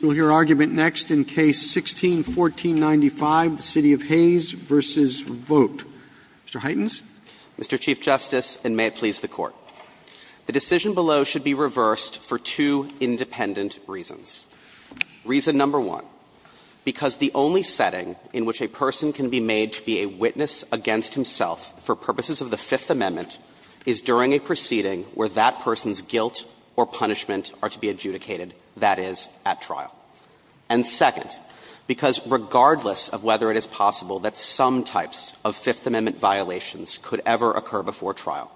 We will hear argument next in Case 16-1495, the City of Hays v. Vogt. Mr. Hytens? Mr. Chief Justice, and may it please the Court, the decision below should be reversed for two independent reasons. Reason number one, because the only setting in which a person can be made to be a witness against himself for purposes of the Fifth Amendment is during a proceeding where that person's guilt or punishment are to be adjudicated, that is, at trial. And second, because regardless of whether it is possible that some types of Fifth Amendment violations could ever occur before trial,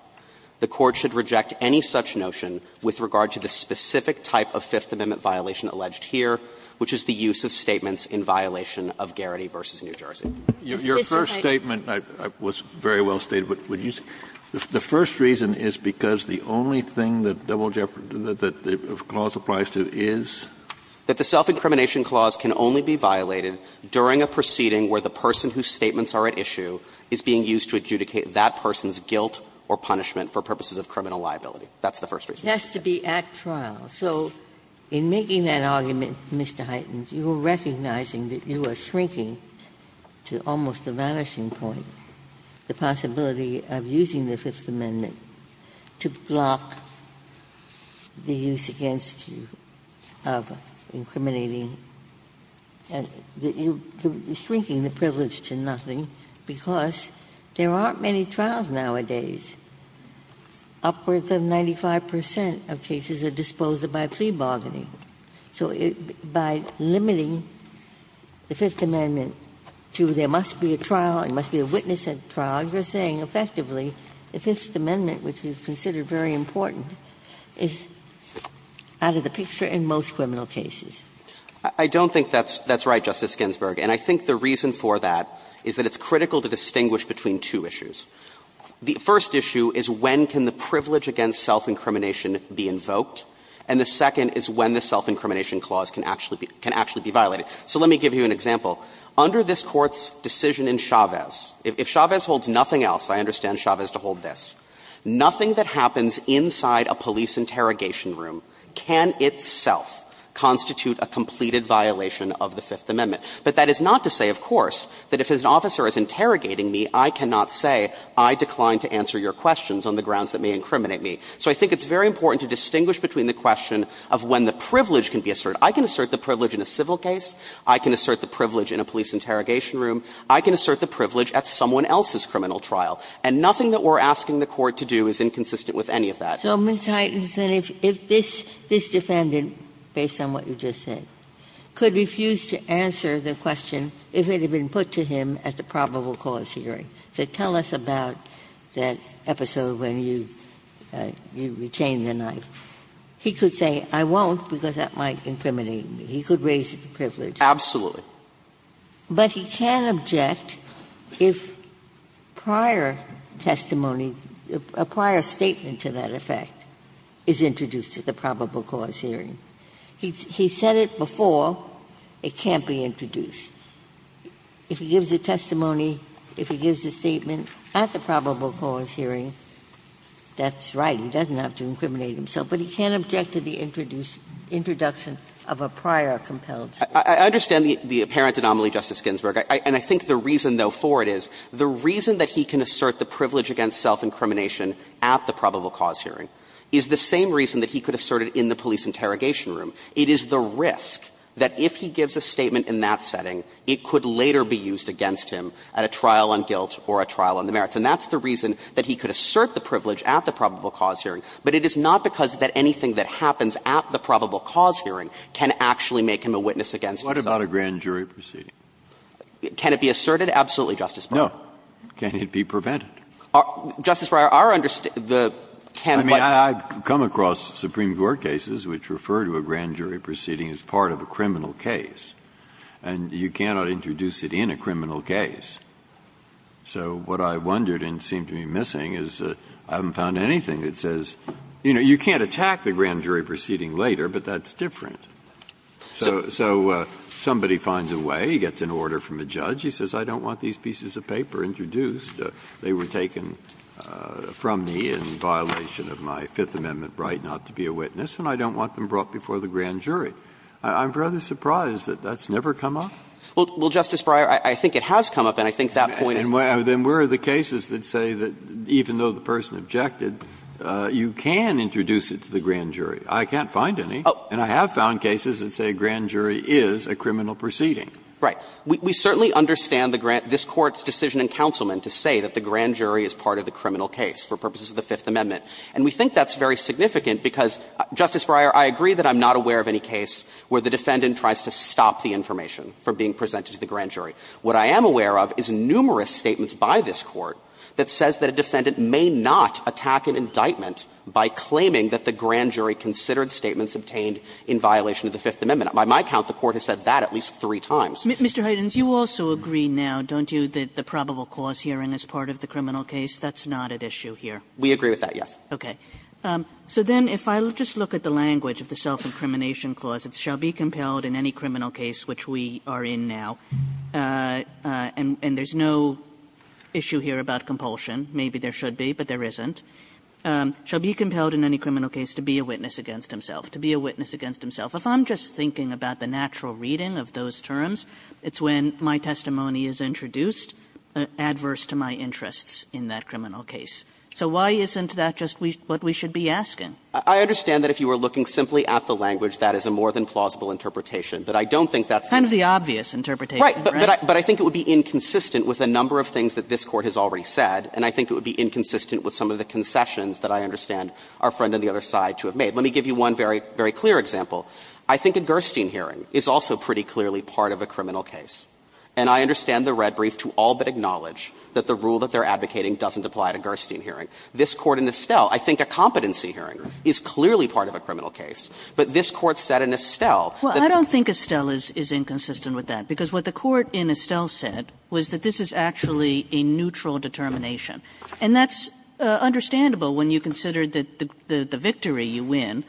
the Court should reject any such notion with regard to the specific type of Fifth Amendment violation alleged here, which is the use of statements in violation of Garrity v. New Jersey. Kennedy, your first statement was very well stated, but would you say the first reason is because the only thing that double jeopardy, that the clause applies to is? That the self-incrimination clause can only be violated during a proceeding where the person whose statements are at issue is being used to adjudicate that person's guilt or punishment for purposes of criminal liability. That's the first reason. It has to be at trial. So in making that argument, Mr. Huytens, you are recognizing that you are shrinking to almost a vanishing point the possibility of using the Fifth Amendment to block the use against you of incriminating and shrinking the privilege to nothing because there aren't many trials nowadays, upwards of 95 percent of cases are disposed of by plea bargaining. So by limiting the Fifth Amendment to there must be a trial, there must be a witness at trial, you are saying effectively the Fifth Amendment, which is considered very important, is out of the picture in most criminal cases. I don't think that's right, Justice Ginsburg. And I think the reason for that is that it's critical to distinguish between two issues. The first issue is when can the privilege against self-incrimination be invoked. And the second is when the self-incrimination clause can actually be violated. So let me give you an example. Under this Court's decision in Chavez, if Chavez holds nothing else, I understand Chavez to hold this, nothing that happens inside a police interrogation room can itself constitute a completed violation of the Fifth Amendment. But that is not to say, of course, that if an officer is interrogating me, I cannot say I decline to answer your questions on the grounds that may incriminate me. So I think it's very important to distinguish between the question of when the privilege can be asserted. I can assert the privilege in a civil case. I can assert the privilege in a police interrogation room. I can assert the privilege at someone else's criminal trial. And nothing that we're asking the Court to do is inconsistent with any of that. Ginsburg. So, Mr. Heitkamp, if this defendant, based on what you just said, could refuse to answer the question if it had been put to him at the probable cause hearing. So tell us about that episode when you retained the knife. He could say, I won't, because that might incriminate me. He could raise the privilege. Absolutely. But he can object if prior testimony, a prior statement to that effect, is introduced at the probable cause hearing. He said it before, it can't be introduced. If he gives a testimony, if he gives a statement at the probable cause hearing, that's right, he doesn't have to incriminate himself. But he can't object to the introduction of a prior compelled statement. I understand the apparent anomaly, Justice Ginsburg. And I think the reason, though, for it is, the reason that he can assert the privilege against self-incrimination at the probable cause hearing is the same reason that he could assert it in the police interrogation room. It is the risk that if he gives a statement in that setting, it could later be used against him at a trial on guilt or a trial on the merits. And that's the reason that he could assert the privilege at the probable cause hearing. But it is not because that anything that happens at the probable cause hearing can actually make him a witness against himself. Breyer, what about a grand jury proceeding? Can it be asserted? Absolutely, Justice Breyer. Can it be prevented? Justice Breyer, our understanding the can what? Breyer, I mean, I've come across Supreme Court cases which refer to a grand jury proceeding as part of a criminal case. And you cannot introduce it in a criminal case. So what I wondered and seem to be missing is I haven't found anything that says, you know, you can't attack the grand jury proceeding later, but that's different. So somebody finds a way, he gets an order from a judge, he says, I don't want these pieces of paper introduced. They were taken from me in violation of my Fifth Amendment right not to be a witness, and I don't want them brought before the grand jury. I'm rather surprised that that's never come up. Well, Justice Breyer, I think it has come up, and I think that point is Then where are the cases that say that even though the person objected, you can introduce it to the grand jury? I can't find any. And I have found cases that say a grand jury is a criminal proceeding. Right. We certainly understand the grant this Court's decision in Councilman to say that the grand jury is part of the criminal case for purposes of the Fifth Amendment. And we think that's very significant because, Justice Breyer, I agree that I'm not aware of any case where the defendant tries to stop the information from being presented to the grand jury. What I am aware of is numerous statements by this Court that says that a defendant may not attack an indictment by claiming that the grand jury considered statements obtained in violation of the Fifth Amendment. By my count, the Court has said that at least three times. Mr. Heidens, you also agree now, don't you, that the probable cause hearing is part of the criminal case? That's not at issue here. We agree with that, yes. Okay. So then if I just look at the language of the self-incrimination clause, it shall be compelled in any criminal case which we are in now, and there's no issue here about compulsion. Maybe there should be, but there isn't. It shall be compelled in any criminal case to be a witness against himself, to be a witness against himself. If I'm just thinking about the natural reading of those terms, it's when my testimony is introduced, adverse to my interests in that criminal case. So why isn't that just what we should be asking? I understand that if you were looking simply at the language, that is a more than plausible interpretation, but I don't think that's the case. Kind of the obvious interpretation, right? But I think it would be inconsistent with a number of things that this Court has already said, and I think it would be inconsistent with some of the concessions that I understand our friend on the other side to have made. Let me give you one very, very clear example. I think a Gerstein hearing is also pretty clearly part of a criminal case, and I understand the red brief to all but acknowledge that the rule that they're advocating doesn't apply to Gerstein hearing. This Court in Estelle, I think a competency hearing is clearly part of a criminal case, but this Court said in Estelle that the court in Estelle said was that this is actually a neutral determination. Kagan,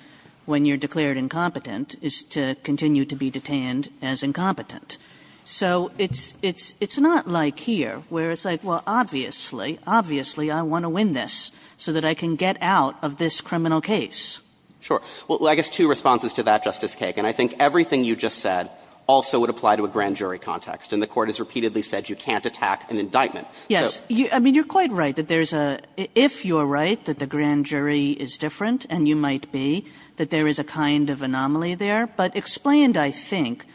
when you're declared incompetent, is to continue to be detained as incompetent. So it's not like here, where it's like, well, obviously, obviously I want to win this so that I can get out of this criminal case. Sure. Well, I guess two responses to that, Justice Kagan. I think everything you just said also would apply to a grand jury context, and the Court has repeatedly said you can't attack an indictment. Yes. I mean, you're quite right that there's a – if you're right that the grand jury is different, and you might be, that there is a kind of anomaly there, but explained, I think,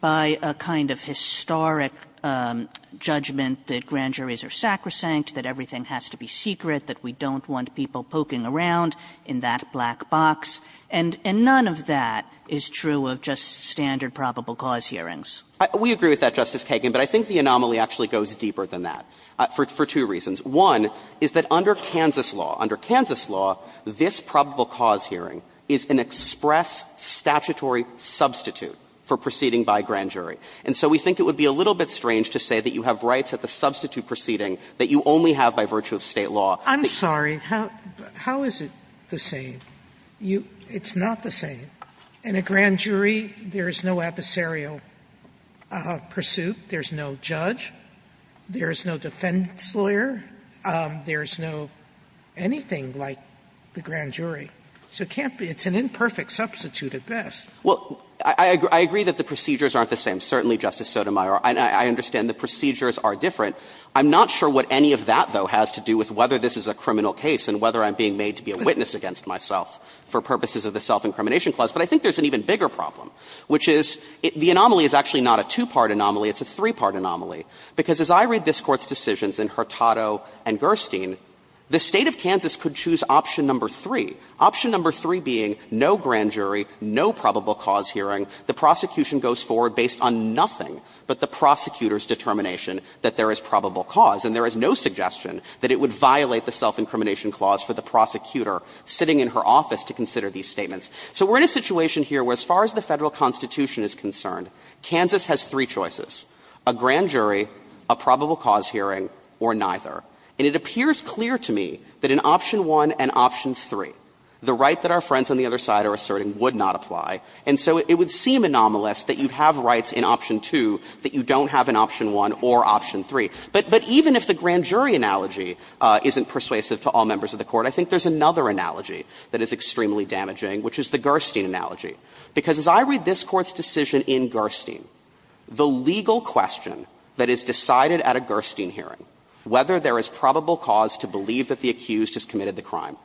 by a kind of historic judgment that grand juries are sacrosanct, that everything has to be secret, that we don't want people poking around in that black box, and none of that is true of just standard probable cause hearings. We agree with that, Justice Kagan, but I think the anomaly actually goes deeper than that for two reasons. One is that under Kansas law, under Kansas law, this probable cause hearing is an express statutory substitute for proceeding by grand jury. And so we think it would be a little bit strange to say that you have rights at the substitute proceeding that you only have by virtue of State law. Sotomayor, I'm sorry. How is it the same? It's not the same. In a grand jury, there is no adversarial pursuit. There is no judge. There is no defendant's lawyer. There is no anything like the grand jury. So it can't be – it's an imperfect substitute at best. Well, I agree that the procedures aren't the same. Certainly, Justice Sotomayor, I understand the procedures are different. I'm not sure what any of that, though, has to do with whether this is a criminal case and whether I'm being made to be a witness against myself for purposes of the Self-Incrimination Clause, but I think there's an even bigger problem, which is the anomaly is actually not a two-part anomaly, it's a three-part anomaly. Because as I read this Court's decisions in Hurtado and Gerstein, the State of Kansas could choose option number three, option number three being no grand jury, no probable cause hearing. The prosecution goes forward based on nothing but the prosecutor's determination that there is probable cause, and there is no suggestion that it would violate the Self-Incrimination Clause for the prosecutor sitting in her office to consider these statements. So we're in a situation here where as far as the Federal Constitution is concerned, Kansas has three choices, a grand jury, a probable cause hearing, or neither. And it appears clear to me that in option one and option three, the right that our friends on the other side are asserting would not apply. And so it would seem anomalous that you have rights in option two that you don't have in option one or option three. But even if the grand jury analogy isn't persuasive to all members of the Court, I think there's another analogy that is extremely damaging, which is the Gerstein analogy. Because as I read this Court's decision in Gerstein, the legal question that is decided at a Gerstein hearing, whether there is probable cause to believe that the accused has committed the crime,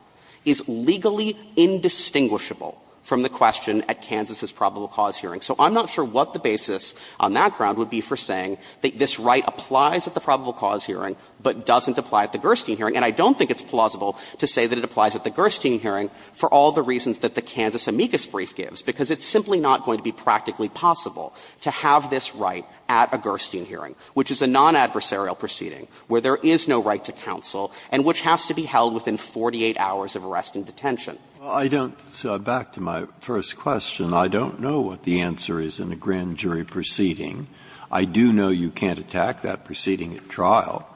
is legally indistinguishable from the question at Kansas' probable cause hearing. So I'm not sure what the basis on that ground would be for saying that this right applies at the probable cause hearing, but doesn't apply at the Gerstein hearing. And I don't think it's plausible to say that it applies at the Gerstein hearing for all the reasons that the Kansas amicus brief gives, because it's simply not going to be practically possible to have this right at a Gerstein hearing, which is a non-adversarial proceeding where there is no right to counsel and which has to be held within 48 hours of arrest and detention. Breyer. So back to my first question, I don't know what the answer is in a grand jury proceeding. I do know you can't attack that proceeding at trial,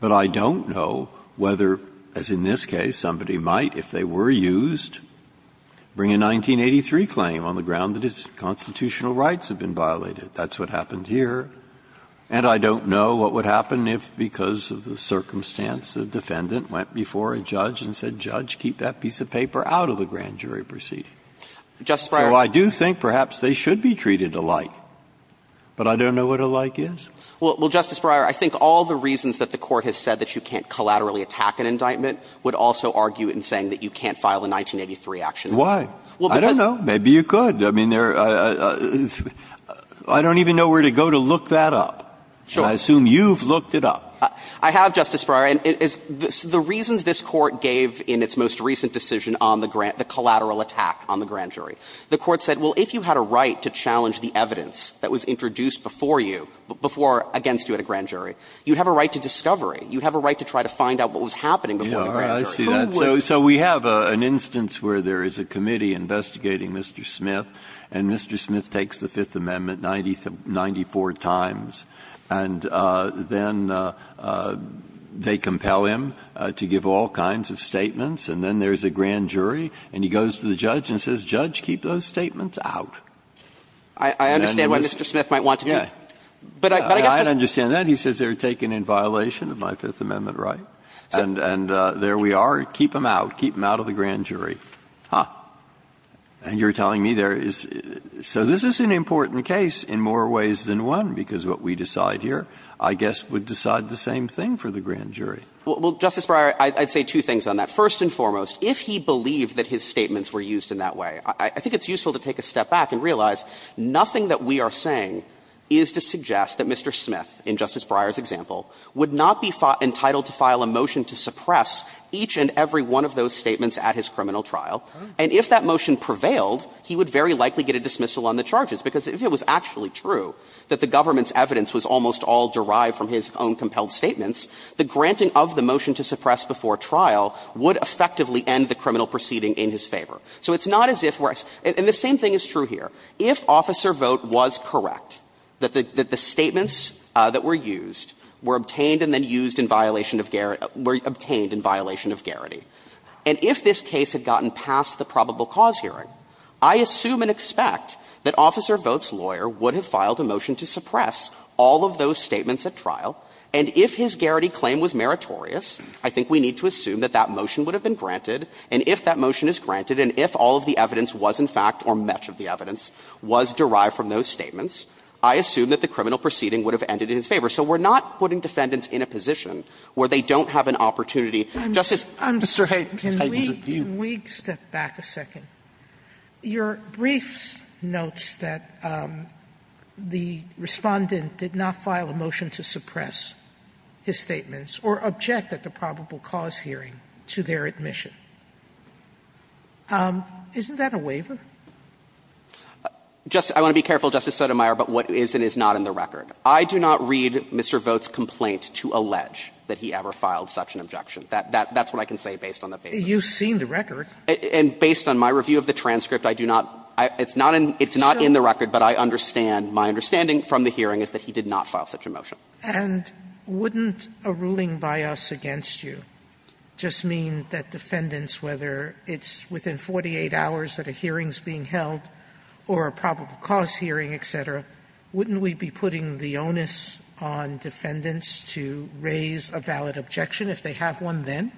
but I don't know whether, as in this case, somebody might, if they were used, bring a 1983 claim on the ground that its constitutional rights have been violated. That's what happened here. And I don't know what would happen if, because of the circumstance, the defendant went before a judge and said, Judge, keep that piece of paper out of the grand jury proceeding. So I do think perhaps they should be treated alike, but I don't know what alike is. Well, Justice Breyer, I think all the reasons that the Court has said that you can't collaterally attack an indictment would also argue in saying that you can't file a 1983 action. Why? I don't know. Maybe you could. I mean, there are — I don't even know where to go to look that up. Sure. And I assume you've looked it up. I have, Justice Breyer. And the reasons this Court gave in its most recent decision on the collateral attack on the grand jury, the Court said, well, if you had a right to challenge the evidence that was introduced before you, before against you at a grand jury, you'd have a right to discovery, you'd have a right to try to find out what was happening before the grand jury. Who would? So we have an instance where there is a committee investigating Mr. Smith, and Mr. Smith takes the Fifth Amendment 94 times, and then they compel him to give all kinds of statements, and then there's a grand jury, and he goes to the judge and says, Judge, keep those statements out. I understand why Mr. Smith might want to do that. I understand that. He says they were taken in violation of my Fifth Amendment right, and there we are. Keep them out. Keep them out of the grand jury. Huh. And you're telling me there is — so this is an important case in more ways than one, because what we decide here, I guess, would decide the same thing for the grand jury. Well, Justice Breyer, I'd say two things on that. First and foremost, if he believed that his statements were used in that way, I think it's useful to take a step back and realize nothing that we are saying is to suggest that Mr. Smith, in Justice Breyer's example, would not be entitled to file a motion to suppress each and every one of those statements at his criminal trial, and if that motion prevailed, he would very likely get a dismissal on the charges, because if it was actually true that the government's evidence was almost all derived from his own compelled statements, the granting of the motion to suppress before trial would effectively end the criminal proceeding in his favor. So it's not as if we're — and the same thing is true here. If Officer Vogt was correct that the statements that were used were obtained and then used in violation of — were obtained in violation of Garrity, and if this case had gotten past the probable cause hearing, I assume and expect that Officer Vogt's lawyer would have filed a motion to suppress all of those statements at trial, and if his Garrity claim was meritorious, I think we need to assume that that motion would have been granted, and if that motion is granted, and if all of the evidence was in fact, or much of the evidence, was derived from those statements, I assume that the criminal proceeding would have ended in his favor. So we're not putting defendants in a position where they don't have an opportunity justice— Sotomayor, can we step back a second? Your briefs notes that the Respondent did not file a motion to suppress his statements or object at the probable cause hearing to their admission. Isn't that a waiver? Just — I want to be careful, Justice Sotomayor, about what is and is not in the record. I do not read Mr. Vogt's complaint to allege that he ever filed such an objection. That's what I can say based on the paper. You've seen the record. And based on my review of the transcript, I do not — it's not in the record, but I understand, my understanding from the hearing is that he did not file such a motion. And wouldn't a ruling by us against you just mean that defendants, whether it's within 48 hours that a hearing is being held or a probable cause hearing, et cetera, wouldn't we be putting the onus on defendants to raise a valid objection if they have one then?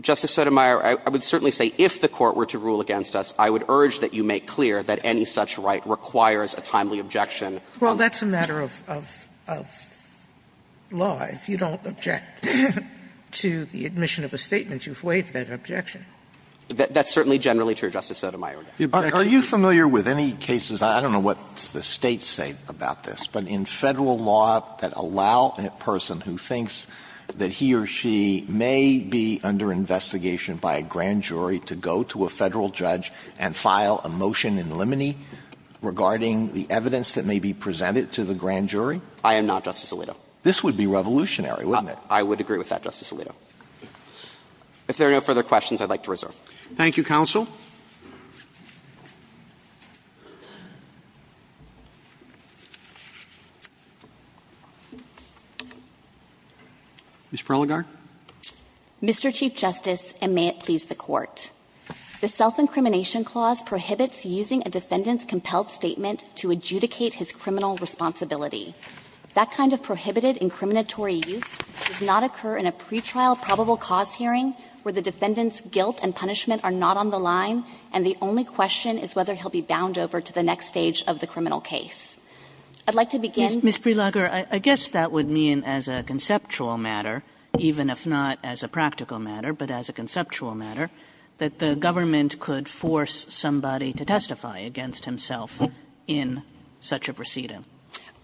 Justice Sotomayor, I would certainly say if the Court were to rule against us, I would urge that you make clear that any such right requires a timely objection. Well, that's a matter of law. If you don't object to the admission of a statement, you've waived that objection. That's certainly generally true, Justice Sotomayor. Are you familiar with any cases, I don't know what the States say about this, but in Federal law that allow a person who thinks that he or she may be under investigation by a grand jury to go to a Federal judge and file a motion in limine regarding the evidence that may be presented to the grand jury? I am not, Justice Alito. This would be revolutionary, wouldn't it? I would agree with that, Justice Alito. If there are no further questions, I'd like to reserve. Thank you, counsel. Ms. Prelogar. Mr. Chief Justice, and may it please the Court. The self-incrimination clause prohibits using a defendant's compelled statement to adjudicate his criminal responsibility. That kind of prohibited incriminatory use does not occur in a pretrial probable cause hearing, where the defendant's guilt and punishment are not on the line, and the only question is whether he'll be bound over to the next stage of the criminal case. I'd like to begin. Ms. Prelogar, I guess that would mean as a conceptual matter, even if not as a practical matter, but as a conceptual matter, that the government could force somebody to testify against himself in such a proceeding.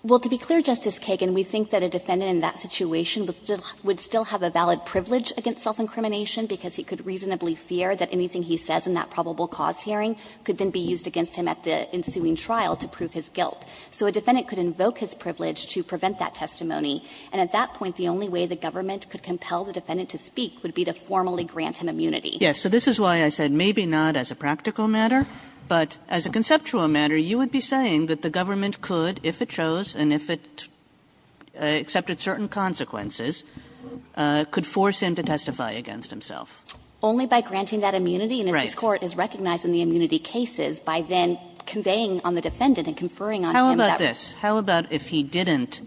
Well, to be clear, Justice Kagan, we think that a defendant in that situation would still have a valid privilege against self-incrimination, because he could reasonably fear that anything he says in that probable cause hearing could then be used against him at the ensuing trial to prove his guilt. So a defendant could invoke his privilege to prevent that testimony, and at that point, the only way the government could compel the defendant to speak would be to formally grant him immunity. Yes. So this is why I said maybe not as a practical matter, but as a conceptual matter, you would be saying that the government could, if it chose and if it accepted certain consequences, could force him to testify against himself. Only by granting that immunity. Right. And if this Court is recognizing the immunity cases, by then conveying on the defendant and conferring on him that right. How about this? How about if he didn't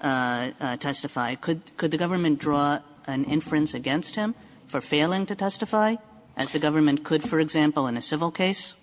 testify, could the government draw an inference against him for failing to testify, as the government could, for example, in a civil case?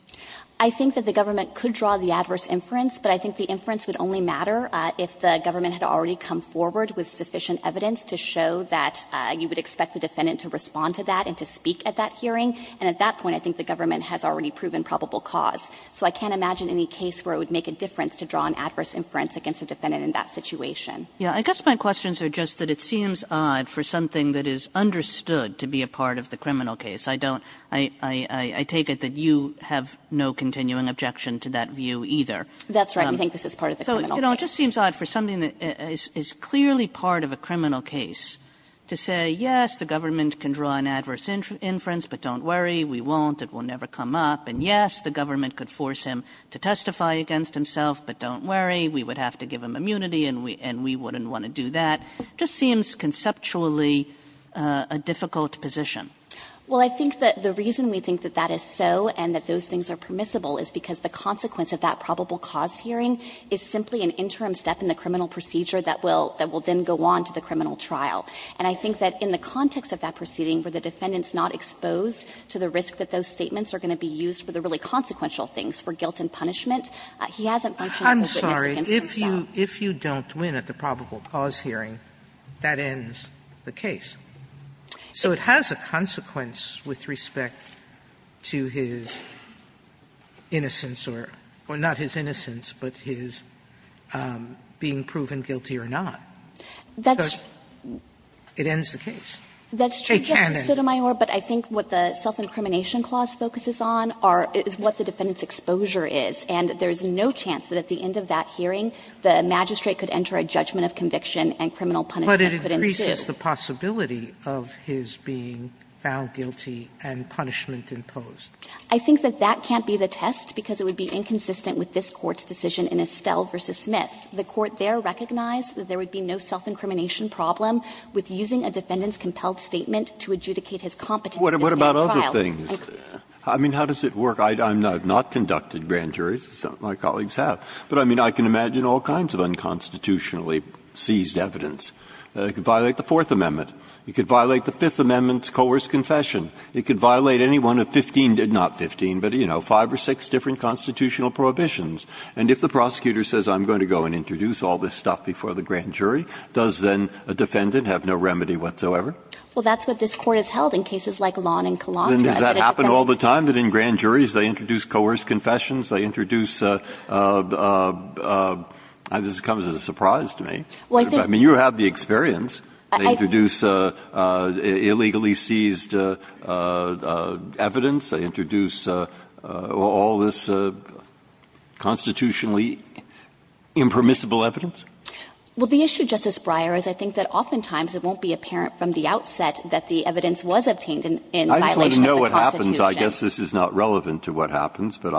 I think that the government could draw the adverse inference, but I think the inference would only matter if the government had already come forward with sufficient evidence to show that you would expect the defendant to respond to that and to speak at that hearing. And at that point, I think the government has already proven probable cause. So I can't imagine any case where it would make a difference to draw an adverse inference against a defendant in that situation. Yeah. I guess my questions are just that it seems odd for something that is understood to be a part of the criminal case. I don't – I take it that you have no continuing objection to that view either. That's right. We think this is part of the criminal case. So, you know, it just seems odd for something that is clearly part of a criminal case to say, yes, the government can draw an adverse inference, but don't worry, we won't, it will never come up. And yes, the government could force him to testify against himself, but don't worry, we would have to give him immunity and we wouldn't want to do that. It just seems conceptually a difficult position. Well, I think that the reason we think that that is so and that those things are permissible is because the consequence of that probable cause hearing is simply an interim step in the criminal procedure that will then go on to the criminal trial. And I think that in the context of that proceeding where the defendant is not exposed to the risk that those statements are going to be used for the really consequential things, for guilt and punishment, he hasn't functioned as a witness against himself. Sotomayor, if you don't win at the probable cause hearing, that ends the case. So it has a consequence with respect to his innocence or not his innocence, but his being proven guilty or not, because it ends the case. It can end the case. That's true, Justice Sotomayor, but I think what the self-incrimination clause focuses on is what the defendant's exposure is, and there is no chance that at the end of that hearing the magistrate could enter a judgment of conviction and criminal punishment could ensue. Sotomayor, but it increases the possibility of his being found guilty and punishment imposed. I think that that can't be the test because it would be inconsistent with this Court's decision in Estelle v. Smith. The Court there recognized that there would be no self-incrimination problem with using a defendant's compelled statement to adjudicate his competence in a state trial. Breyer, what about other things? I mean, how does it work? I have not conducted grand juries. Some of my colleagues have. But, I mean, I can imagine all kinds of unconstitutionally seized evidence. It could violate the Fourth Amendment. It could violate the Fifth Amendment's coerced confession. It could violate any one of 15 to 15, not 15, but, you know, five or six different constitutional prohibitions. And if the prosecutor says I'm going to go and introduce all this stuff before the grand jury, does then a defendant have no remedy whatsoever? Well, that's what this Court has held in cases like Lon and Kalon. Then does that happen all the time, that in grand juries they introduce coerced confessions, they introduce a – this comes as a surprise to me. I mean, you have the experience. They introduce illegally seized evidence. They introduce all this constitutionally impermissible evidence. Well, the issue, Justice Breyer, is I think that oftentimes it won't be apparent from the outset that the evidence was obtained in violation of the Constitution. Breyer, I guess this is not relevant to what happens, but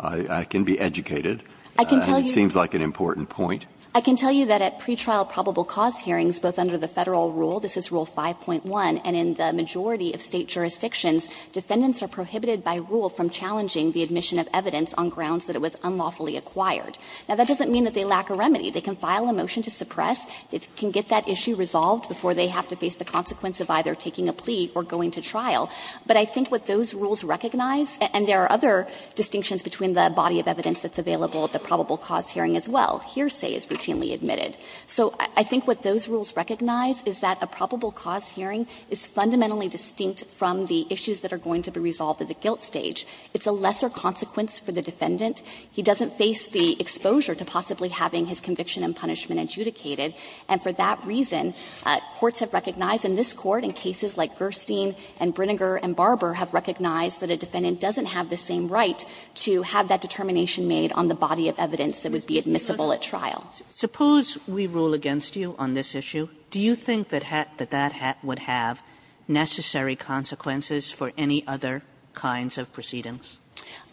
I can be educated. And it seems like an important point. I can tell you that at pretrial probable cause hearings, both under the Federal rule, this is rule 5.1, and in the majority of State jurisdictions, defendants are prohibited by rule from challenging the admission of evidence on grounds that it was unlawfully acquired. Now, that doesn't mean that they lack a remedy. They can file a motion to suppress. It can get that issue resolved before they have to face the consequence of either taking a plea or going to trial. But I think what those rules recognize, and there are other distinctions between the body of evidence that's available at the probable cause hearing as well, hearsay is routinely admitted. So I think what those rules recognize is that a probable cause hearing is fundamentally distinct from the issues that are going to be resolved at the guilt stage. It's a lesser consequence for the defendant. He doesn't face the exposure to possibly having his conviction and punishment adjudicated. And for that reason, courts have recognized in this Court, in cases like Gerstein and Brinegar and Barber, have recognized that a defendant doesn't have the same right to have that determination made on the body of evidence that would be admissible at trial. Kagan Suppose we rule against you on this issue, do you think that that would have necessary consequences for any other kinds of proceedings?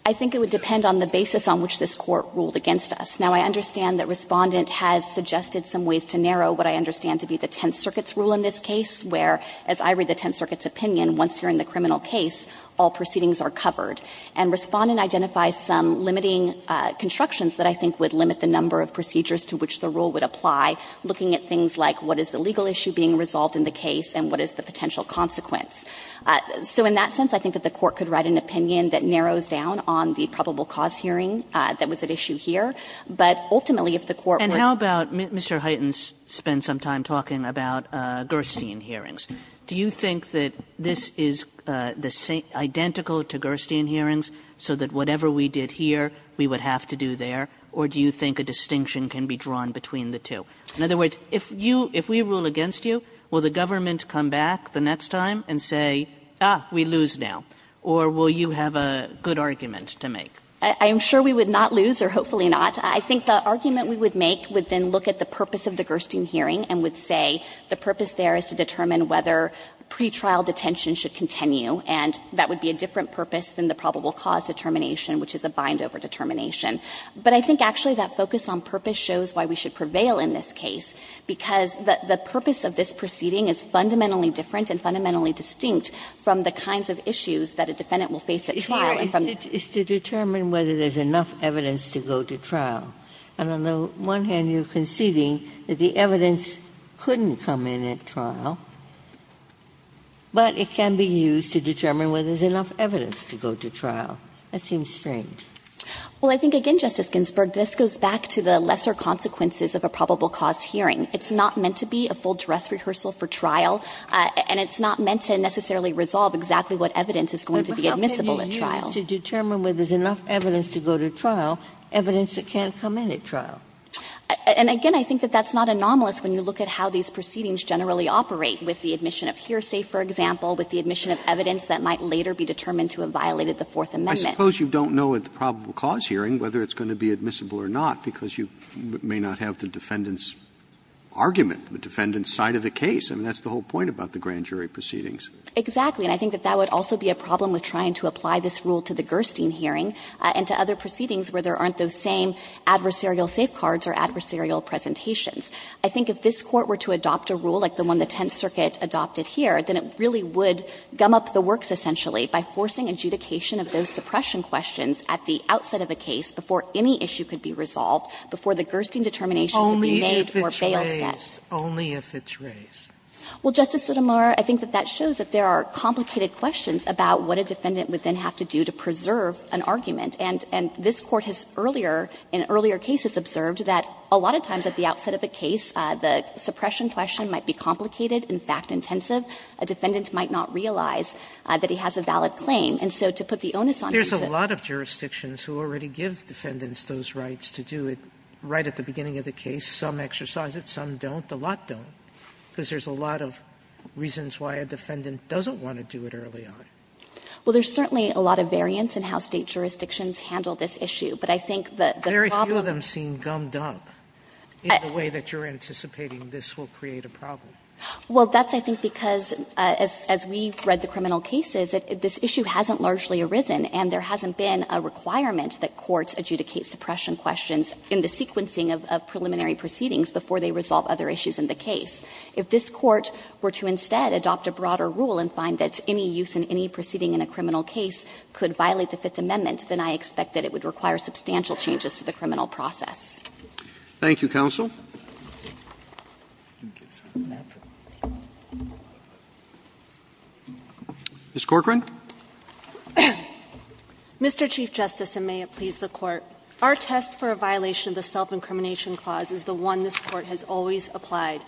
I think it would depend on the basis on which this Court ruled against us. Now, I understand that Respondent has suggested some ways to narrow what I understand to be the Tenth Circuit's rule in this case, where, as I read the Tenth Circuit's opinion, once you're in the criminal case, all proceedings are covered. And Respondent identifies some limiting constructions that I think would limit the number of procedures to which the rule would apply, looking at things like what is the legal issue being resolved in the case and what is the potential consequence. So in that sense, I think that the Court could write an opinion that narrows down on the probable cause hearing that was at issue here. Now, you're talking about Gerstein hearings. Do you think that this is identical to Gerstein hearings, so that whatever we did here, we would have to do there, or do you think a distinction can be drawn between the two? In other words, if you – if we rule against you, will the government come back the next time and say, ah, we lose now, or will you have a good argument to make? I am sure we would not lose, or hopefully not. I think the argument we would make would then look at the purpose of the Gerstein hearing and would say the purpose there is to determine whether pretrial detention should continue, and that would be a different purpose than the probable cause determination, which is a bind-over determination. But I think actually that focus on purpose shows why we should prevail in this case, because the purpose of this proceeding is fundamentally different and fundamentally distinct from the kinds of issues that a defendant will face at trial. Ginsburg's is to determine whether there is enough evidence to go to trial. And on the one hand, you are conceding that the evidence couldn't come in at trial, but it can be used to determine whether there is enough evidence to go to trial. That seems strange. Well, I think, again, Justice Ginsburg, this goes back to the lesser consequences of a probable cause hearing. It's not meant to be a full dress rehearsal for trial, and it's not meant to necessarily resolve exactly what evidence is going to be admissible at trial. It's meant to determine whether there is enough evidence to go to trial, evidence that can't come in at trial. And, again, I think that that's not anomalous when you look at how these proceedings generally operate, with the admission of hearsay, for example, with the admission of evidence that might later be determined to have violated the Fourth Amendment. I suppose you don't know at the probable cause hearing whether it's going to be admissible or not, because you may not have the defendant's argument, the defendant's side of the case. I mean, that's the whole point about the grand jury proceedings. Exactly. And I think that that would also be a problem with trying to apply this rule to the Gerstein hearing and to other proceedings where there aren't those same adversarial safeguards or adversarial presentations. I think if this Court were to adopt a rule like the one the Tenth Circuit adopted here, then it really would gum up the works, essentially, by forcing adjudication of those suppression questions at the outset of a case before any issue could be resolved, before the Gerstein determination would be made or bail set. Only if it's raised. Well, Justice Sotomayor, I think that that shows that there are complicated questions about what a defendant would then have to do to preserve an argument. And this Court has earlier, in earlier cases, observed that a lot of times at the outset of a case, the suppression question might be complicated, in fact intensive. A defendant might not realize that he has a valid claim. And so to put the onus on you to do it. There's a lot of jurisdictions who already give defendants those rights to do it right at the beginning of the case. Some exercise it, some don't. But the lot don't, because there's a lot of reasons why a defendant doesn't want to do it early on. Well, there's certainly a lot of variance in how State jurisdictions handle this issue. But I think that the problem of the way that you're anticipating this will create a problem. Well, that's, I think, because as we've read the criminal cases, this issue hasn't largely arisen, and there hasn't been a requirement that courts adjudicate suppression questions in the sequencing of preliminary proceedings before they resolve other issues in the case. If this Court were to instead adopt a broader rule and find that any use in any proceeding in a criminal case could violate the Fifth Amendment, then I expect that it would require substantial changes to the criminal process. Roberts. Thank you, counsel. Ms. Corcoran. Mr. Chief Justice, and may it please the Court. Our test for a violation of the Self-Incrimination Clause is the one this Court has always applied.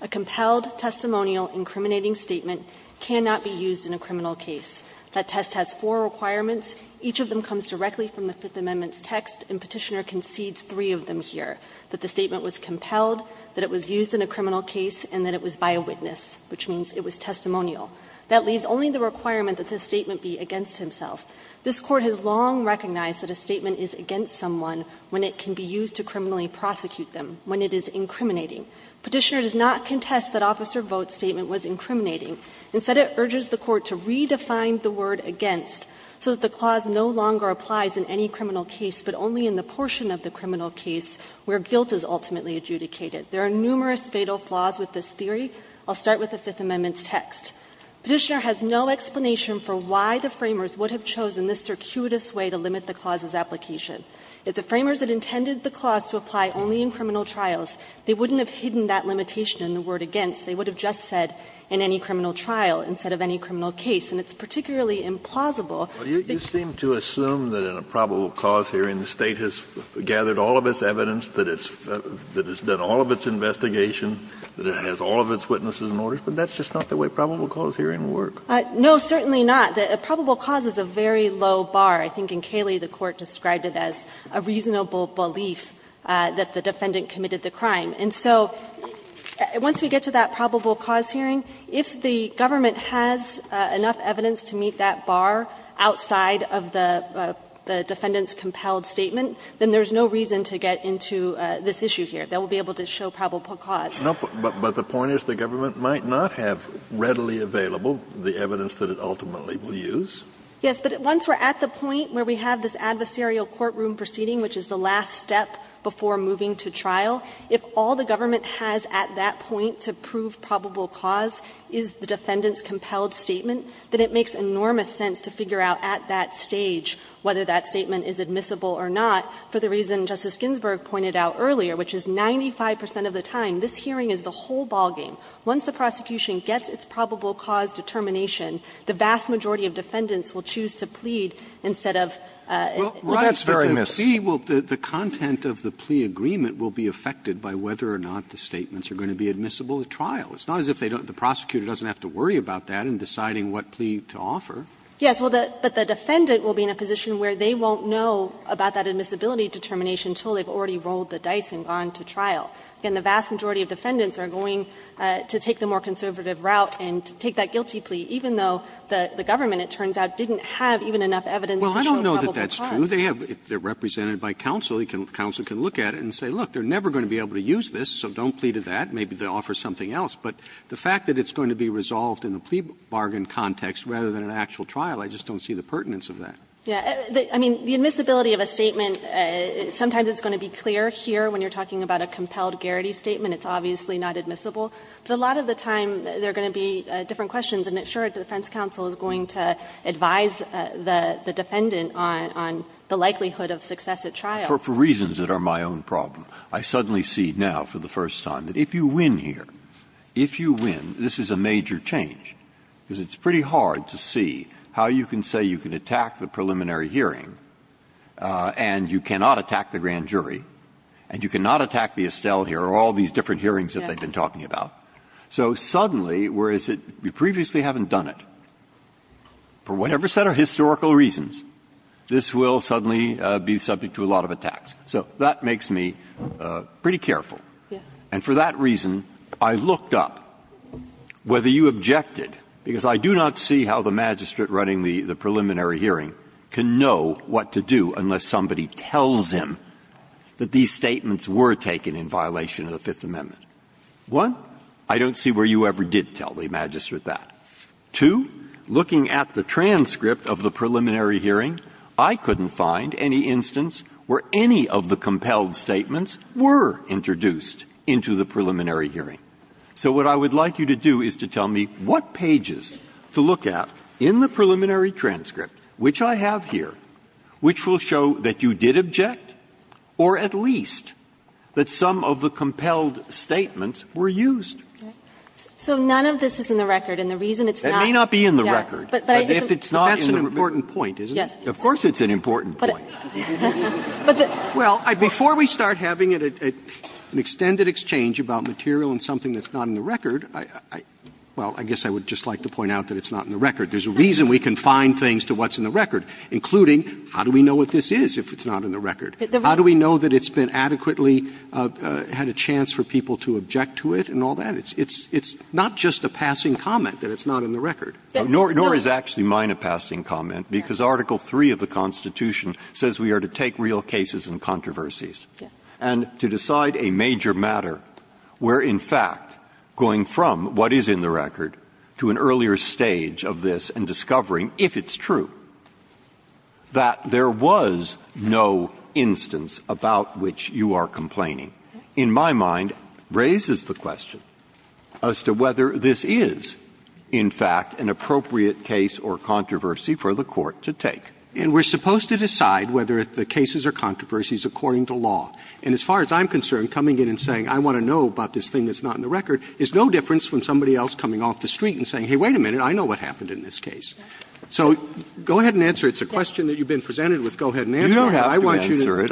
A compelled, testimonial, incriminating statement cannot be used in a criminal case. That test has four requirements. Each of them comes directly from the Fifth Amendment's text, and Petitioner concedes three of them here, that the statement was compelled, that it was used in a criminal case, and that it was by a witness, which means it was testimonial. That leaves only the requirement that the statement be against himself. This Court has long recognized that a statement is against someone when it can be used to criminally prosecute them, when it is incriminating. Petitioner does not contest that Officer Vogt's statement was incriminating. Instead, it urges the Court to redefine the word against so that the clause no longer applies in any criminal case, but only in the portion of the criminal case where guilt is ultimately adjudicated. There are numerous fatal flaws with this theory. I'll start with the Fifth Amendment's text. Petitioner has no explanation for why the Framers would have chosen this circuitous way to limit the clause's application. If the Framers had intended the clause to apply only in criminal trials, they wouldn't have hidden that limitation in the word against. They would have just said, in any criminal trial, instead of any criminal case. And it's particularly implausible that you can't use it in a criminal case. Kennedy, you seem to assume that in a probable cause hearing, the State has gathered all of its evidence, that it's done all of its investigation, that it has all of its witnesses in order, but that's just not the way probable cause hearings work. No, certainly not. The probable cause is a very low bar. I think in Cayley the Court described it as a reasonable belief that the defendant committed the crime. And so once we get to that probable cause hearing, if the government has enough evidence to meet that bar outside of the defendant's compelled statement, then there's no reason to get into this issue here, that we'll be able to show probable cause. Kennedy, but the point is the government might not have readily available the evidence that it ultimately will use. Yes, but once we're at the point where we have this adversarial courtroom proceeding, which is the last step before moving to trial, if all the government has at that point to prove probable cause is the defendant's compelled statement, then it makes enormous sense to figure out at that stage whether that statement is admissible or not, for the reason Justice Ginsburg pointed out earlier, which is 95 percent of the time, this hearing is the whole ballgame. Once the prosecution gets its probable cause determination, the vast majority of defendants will choose to plead instead of leaving. Roberts, but the plea will be the content of the plea agreement will be affected by whether or not the statements are going to be admissible at trial. It's not as if they don't the prosecutor doesn't have to worry about that in deciding what plea to offer. Yes, but the defendant will be in a position where they won't know about that admissibility determination until they've already rolled the dice and gone to trial. Again, the vast majority of defendants are going to take the more conservative route and take that guilty plea, even though the government, it turns out, didn't have even enough evidence to show probable cause. Roberts, I don't know that that's true. They have to be represented by counsel. The counsel can look at it and say, look, they're never going to be able to use this, so don't plead to that. Maybe they'll offer something else. But the fact that it's going to be resolved in the plea bargain context rather than an actual trial, I just don't see the pertinence of that. Yeah. I mean, the admissibility of a statement, sometimes it's going to be clear here when you're talking about a compelled garrity statement, it's obviously not admissible. But a lot of the time, there are going to be different questions, and it's sure the defense counsel is going to advise the defendant on the likelihood of success at trial. For reasons that are my own problem, I suddenly see now for the first time that if you win here, if you win, this is a major change, because it's pretty hard to see how you can say you can attack the preliminary hearing and you cannot attack the grand jury and you cannot attack the Estelle here or all these different hearings that they've been talking about, so suddenly, whereas you previously haven't done it, for whatever set of historical reasons, this will suddenly be subject to a lot of attacks. So that makes me pretty careful. And for that reason, I looked up whether you objected, because I do not see how the magistrate running the preliminary hearing can know what to do unless somebody tells him that these statements were taken in violation of the Fifth Amendment. One, I don't see where you ever did tell the magistrate that. Two, looking at the transcript of the preliminary hearing, I couldn't find any instance where any of the compelled statements were introduced into the preliminary hearing. So what I would like you to do is to tell me what pages to look at in the preliminary transcript, which I have here, which will show that you did object, or at least that some of the compelled statements were used. So none of this is in the record, and the reason it's not. It may not be in the record, but if it's not in the record. But that's an important point, isn't it? Yes. Of course it's an important point. But the ---- Well, before we start having an extended exchange about material and something that's not in the record, well, I guess I would just like to point out that it's not in the record. There's a reason we confine things to what's in the record, including how do we know what this is if it's not in the record? How do we know that it's been adequately had a chance for people to object to it and all that? It's not just a passing comment that it's not in the record. Nor is actually mine a passing comment, because Article III of the Constitution says we are to take real cases and controversies and to decide a major matter where, in fact, going from what is in the record to an earlier stage of this and discovering, if it's true, that there was no instance about which you are complaining, in my mind, raises the question as to whether this is, in fact, an appropriate case or controversy for the Court to take. And we're supposed to decide whether the cases are controversies according to law. And as far as I'm concerned, coming in and saying, I want to know about this thing that's not in the record, is no difference from somebody else coming off the street and saying, hey, wait a minute, I know what happened in this case. So go ahead and answer it. It's a question that you've been presented with. Go ahead and answer it. I want you to answer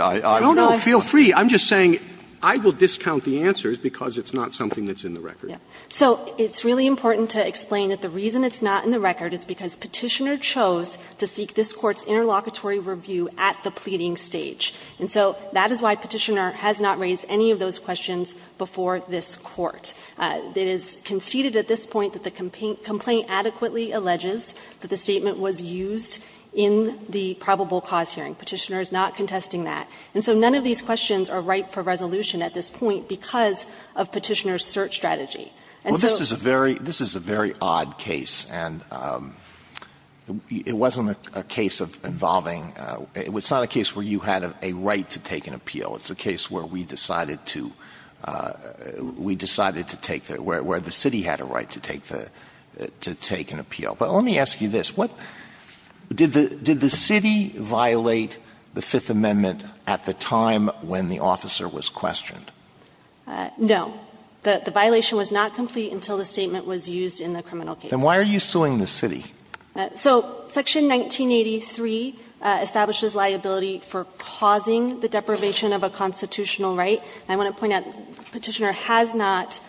it. I'm just saying, I will discount the answers because it's not something that's in the record. So it's really important to explain that the reason it's not in the record is because Petitioner chose to seek this Court's interlocutory review at the pleading stage. And so that is why Petitioner has not raised any of those questions before this Court. It is conceded at this point that the complaint adequately alleges that the statement was used in the probable cause hearing. Petitioner is not contesting that. And so none of these questions are ripe for resolution at this point because of Petitioner's search strategy. But let me ask you this, what did the city violate the Fifth Amendment at the time when the officer was questioned? No. The violation was not complete until the statement was used in the criminal case. Then why are you suing the city? of a constitutional right. I want to point out Petitioner has not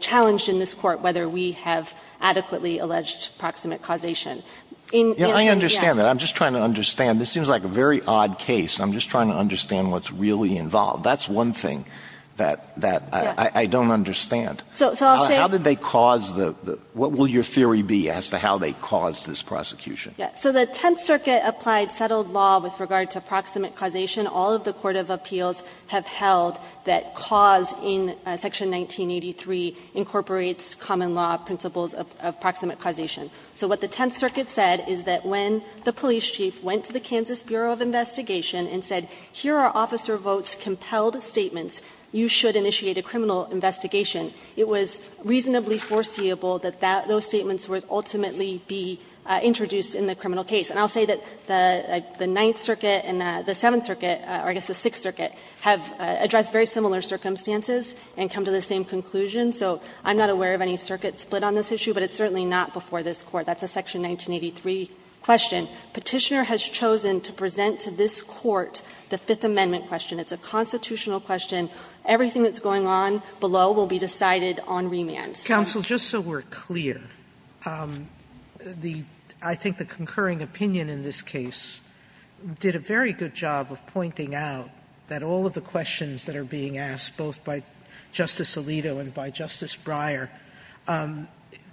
challenged in this Court whether we have adequately alleged proximate causation. In answer, yes. I understand that. I'm just trying to understand. This seems like a very odd case. I'm just trying to understand what's really involved. That's one thing that I don't understand. How did they cause the – what will your theory be as to how they caused this prosecution? So the Tenth Circuit applied settled law with regard to proximate causation. All of the court of appeals have held that cause in section 1983 incorporates common law principles of proximate causation. So what the Tenth Circuit said is that when the police chief went to the Kansas Bureau of Investigation and said, here are Officer Vought's compelled statements, you should initiate a criminal investigation, it was reasonably foreseeable that those statements would ultimately be introduced in the criminal case. And I'll say that the Ninth Circuit and the Seventh Circuit, or I guess the Sixth Circuit, have addressed very similar circumstances and come to the same conclusion. So I'm not aware of any circuit split on this issue, but it's certainly not before this Court. That's a section 1983 question. Petitioner has chosen to present to this Court the Fifth Amendment question. It's a constitutional question. Everything that's going on below will be decided on remand. Sotomayor, just so we're clear, I think the concurring opinion in this case did a very good job of pointing out that all of the questions that are being asked, both by Justice Alito and by Justice Breyer,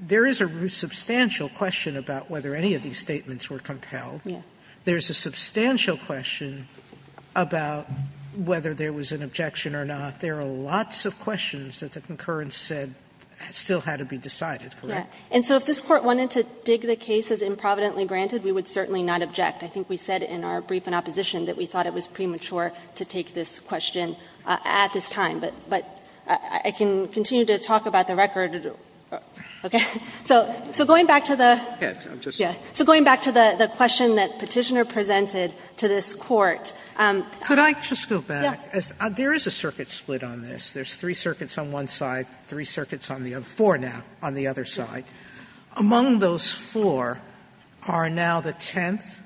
there is a substantial question about whether any of these statements were compelled. There's a substantial question about whether there was an objection or not. There are lots of questions that the concurrence said still had to be decided. Correct? And so if this Court wanted to dig the case as improvidently granted, we would certainly not object. I think we said in our brief in opposition that we thought it was premature to take this question at this time. But I can continue to talk about the record. Okay? So going back to the question that Petitioner presented to this Court. Could I just go back? There is a circuit split on this. There's three circuits on one side, three circuits on the other, four now, on the other side. Among those four are now the tenth,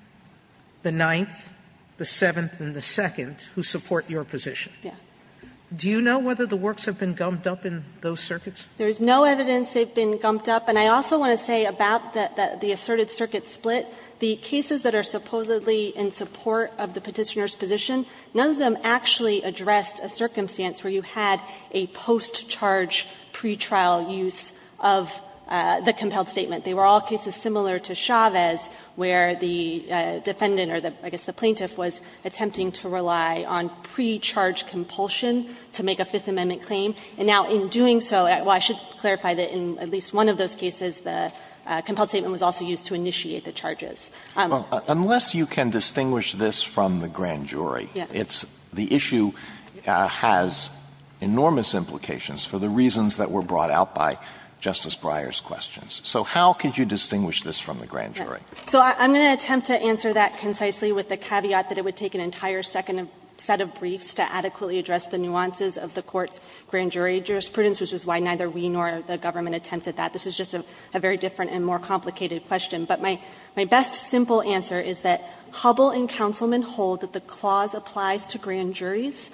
the ninth, the seventh, and the second who support your position. Do you know whether the works have been gumped up in those circuits? There's no evidence they've been gumped up. And I also want to say about the asserted circuit split, the cases that are supposedly in support of the Petitioner's position, none of them actually addressed a circumstance where you had a post-charge pretrial use of the compelled statement. They were all cases similar to Chavez, where the defendant or I guess the plaintiff was attempting to rely on pre-charge compulsion to make a Fifth Amendment claim. And now in doing so, well, I should clarify that in at least one of those cases, the compelled statement was also used to initiate the charges. Alito, unless you can distinguish this from the grand jury, it's the issue has enormous implications for the reasons that were brought out by Justice Breyer's questions. So how could you distinguish this from the grand jury? So I'm going to attempt to answer that concisely with the caveat that it would take an entire second set of briefs to adequately address the nuances of the Court's grand jury jurisprudence, which is why neither we nor the government attempted that. This is just a very different and more complicated question. But my best simple answer is that Hubbell and Councilman hold that the clause applies to grand juries.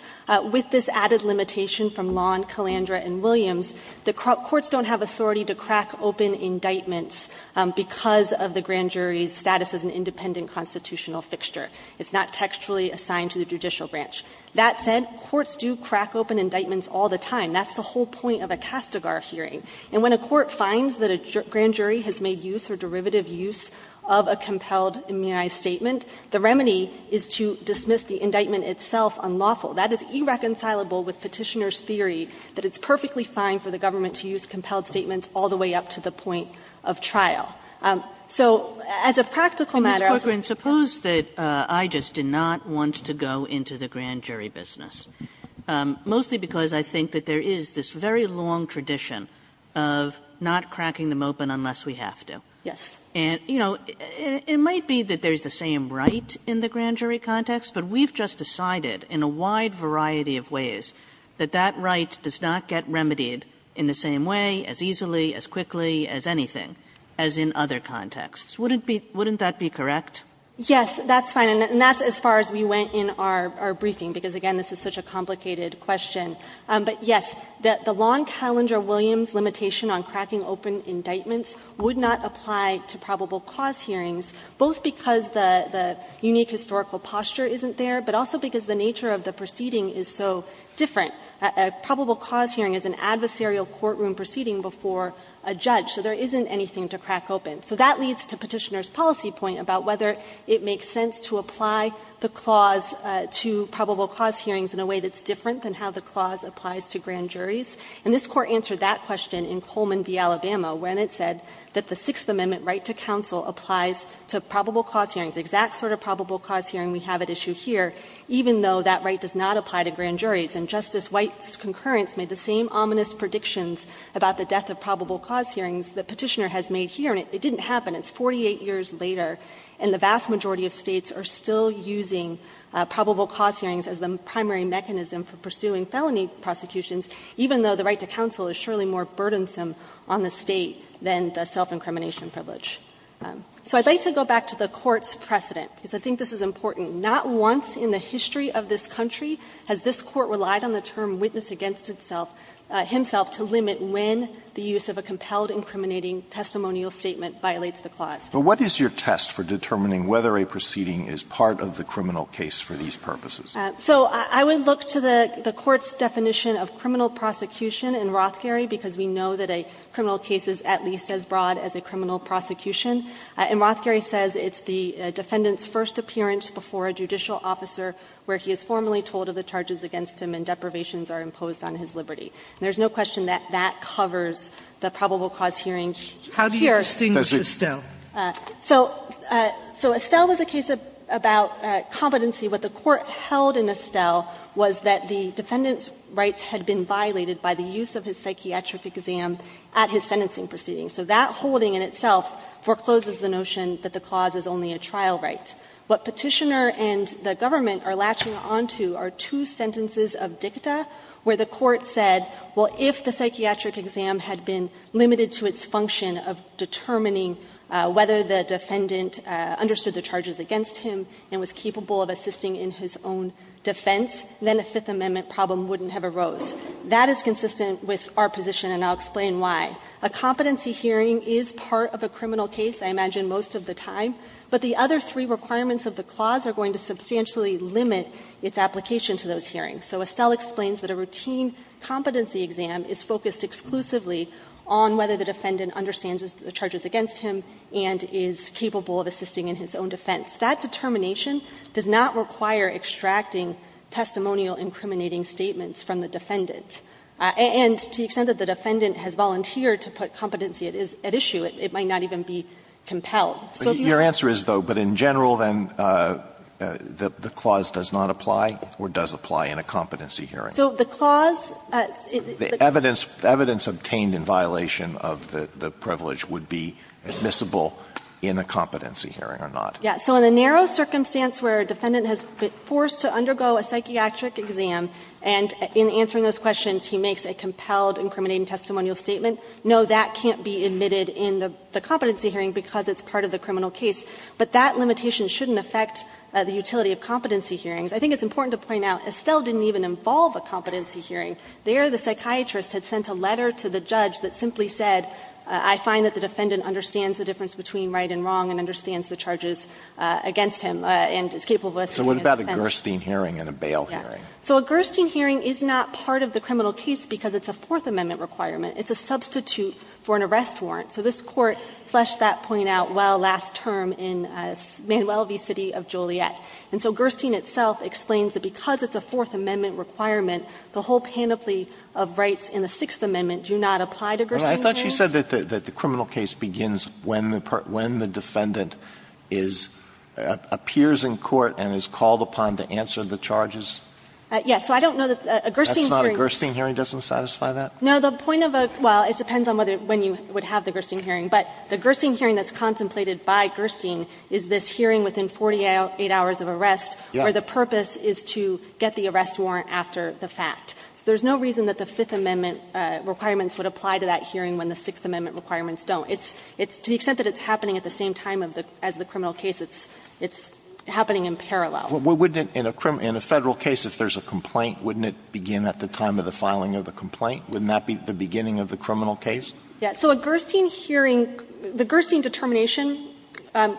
With this added limitation from Lawn, Calandra, and Williams, the courts don't have authority to crack open indictments because of the grand jury's status as an independent constitutional fixture. It's not textually assigned to the judicial branch. That said, courts do crack open indictments all the time. That's the whole point of a Castigar hearing. And when a court finds that a grand jury has made use or derivative use of a compelled immunized statement, the remedy is to dismiss the indictment itself unlawful. That is irreconcilable with Petitioner's theory that it's perfectly fine for the government to use compelled statements all the way up to the point of trial. So as a practical matter, I was going to say that the Grand Jury Business, mostly because I think that there is this very long tradition of not cracking them open unless we have to. And, you know, it might be that there's the same right in the grand jury context, but we've just decided in a wide variety of ways that that right does not get remedied in the same way, as easily, as quickly as anything as in other contexts. Wouldn't that be correct? Yes, that's fine. And that's as far as we went in our briefing, because, again, this is such a complicated question. But, yes, the long Callender-Williams limitation on cracking open indictments would not apply to probable cause hearings, both because the unique historical posture isn't there, but also because the nature of the proceeding is so different. A probable cause hearing is an adversarial courtroom proceeding before a judge, so there isn't anything to crack open. So that leads to Petitioner's policy point about whether it makes sense to apply the clause to probable cause hearings in a way that's different than how the clause applies to grand juries. And this Court answered that question in Coleman v. Alabama, when it said that the Sixth Amendment right to counsel applies to probable cause hearings, the exact sort of probable cause hearing we have at issue here, even though that right does not apply to grand juries. And Justice White's concurrence made the same ominous predictions about the death of probable cause hearings that Petitioner has made here, and it didn't happen. And it's 48 years later, and the vast majority of States are still using probable cause hearings as the primary mechanism for pursuing felony prosecutions, even though the right to counsel is surely more burdensome on the State than the self-incrimination privilege. So I'd like to go back to the Court's precedent, because I think this is important. Not once in the history of this country has this Court relied on the term witness-against-itself, himself, to limit when the use of a compelled incriminating testimonial statement violates the clause. But what is your test for determining whether a proceeding is part of the criminal case for these purposes? So I would look to the Court's definition of criminal prosecution in Rothkerry, because we know that a criminal case is at least as broad as a criminal prosecution. In Rothkerry, it says it's the defendant's first appearance before a judicial officer where he is formally told of the charges against him and deprivations are imposed on his liberty. And there is no question that that covers the probable cause hearing here. Sotomayor, here. Sotomayor, Mr. Chief Justice. So Estelle was a case about competency. What the Court held in Estelle was that the defendant's rights had been violated by the use of his psychiatric exam at his sentencing proceeding. So that holding in itself forecloses the notion that the clause is only a trial right. What Petitioner and the government are latching onto are two sentences of dicta where the Court said, well, if the psychiatric exam had been limited to its function of determining whether the defendant understood the charges against him and was capable of assisting in his own defense, then a Fifth Amendment problem wouldn't have arose. That is consistent with our position, and I'll explain why. A competency hearing is part of a criminal case, I imagine, most of the time. But the other three requirements of the clause are going to substantially limit its application to those hearings. So Estelle explains that a routine competency exam is focused exclusively on whether the defendant understands the charges against him and is capable of assisting in his own defense. That determination does not require extracting testimonial incriminating statements from the defendant. And to the extent that the defendant has volunteered to put competency at issue, it might not even be compelled. So do you think that's fair? Alito, but your answer is, though, but in general, then, the clause does not apply or does apply in a competency hearing. So the clause is the evidence obtained in violation of the privilege would be admissible in a competency hearing or not? Yes. So in the narrow circumstance where a defendant has been forced to undergo a psychiatric exam and in answering those questions he makes a compelled incriminating testimonial statement, no, that can't be admitted in the competency hearing because it's part of the criminal case. But that limitation shouldn't affect the utility of competency hearings. I think it's important to point out Estelle didn't even involve a competency hearing. There the psychiatrist had sent a letter to the judge that simply said, I find that the defendant understands the difference between right and wrong and understands the charges against him and is capable of assisting in his defense. So what about a Gerstein hearing and a bail hearing? Yes. So a Gerstein hearing is not part of the criminal case because it's a Fourth Amendment requirement. It's a substitute for an arrest warrant. So this Court fleshed that point out well last term in Manuel v. City of Joliet. And so Gerstein itself explains that because it's a Fourth Amendment requirement, the whole panoply of rights in the Sixth Amendment do not apply to Gerstein hearings. Alito, I thought she said that the criminal case begins when the defendant is, appears in court and is called upon to answer the charges? Yes. So I don't know that a Gerstein hearing. That's not a Gerstein hearing? Doesn't satisfy that? No. The point of a – well, it depends on whether, when you would have the Gerstein hearing. But the Gerstein hearing that's contemplated by Gerstein is this hearing within 48 hours of arrest where the purpose is to get the arrest warrant after the fact. So there's no reason that the Fifth Amendment requirements would apply to that hearing when the Sixth Amendment requirements don't. It's to the extent that it's happening at the same time as the criminal case, it's happening in parallel. Well, wouldn't it, in a federal case, if there's a complaint, wouldn't it begin at the time of the filing of the complaint? Wouldn't that be the beginning of the criminal case? Yeah. So a Gerstein hearing – the Gerstein determination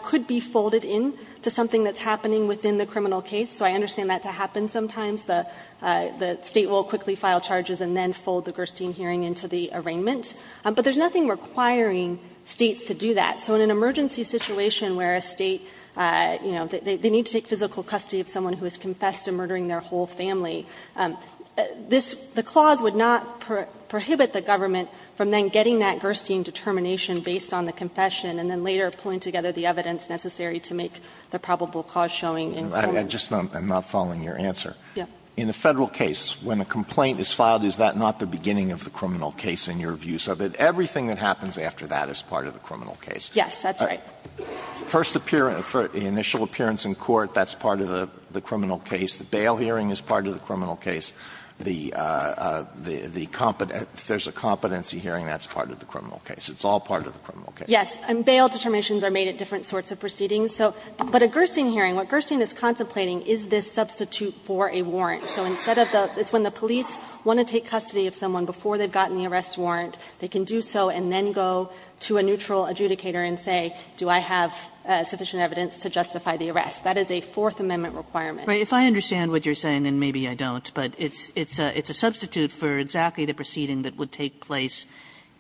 could be folded in to something that's happening within the criminal case. So I understand that to happen sometimes. The State will quickly file charges and then fold the Gerstein hearing into the arraignment. But there's nothing requiring States to do that. So in an emergency situation where a State, you know, they need to take physical custody of someone who has confessed to murdering their whole family, this – the that Gerstein determination based on the confession and then later pulling together the evidence necessary to make the probable cause showing in criminal case. I'm just not following your answer. Yeah. In a Federal case, when a complaint is filed, is that not the beginning of the criminal case in your view, so that everything that happens after that is part of the criminal case? Yes, that's right. First appearance – initial appearance in court, that's part of the criminal case. The bail hearing is part of the criminal case. The – if there's a competency hearing, that's part of the criminal case. It's all part of the criminal case. Yes. And bail determinations are made at different sorts of proceedings. So – but a Gerstein hearing, what Gerstein is contemplating is this substitute for a warrant. So instead of the – it's when the police want to take custody of someone before they've gotten the arrest warrant, they can do so and then go to a neutral adjudicator and say, do I have sufficient evidence to justify the arrest? That is a Fourth Amendment requirement. Kagan, if I understand what you're saying, and maybe I don't, but it's – it's a substitute for exactly the proceeding that would take place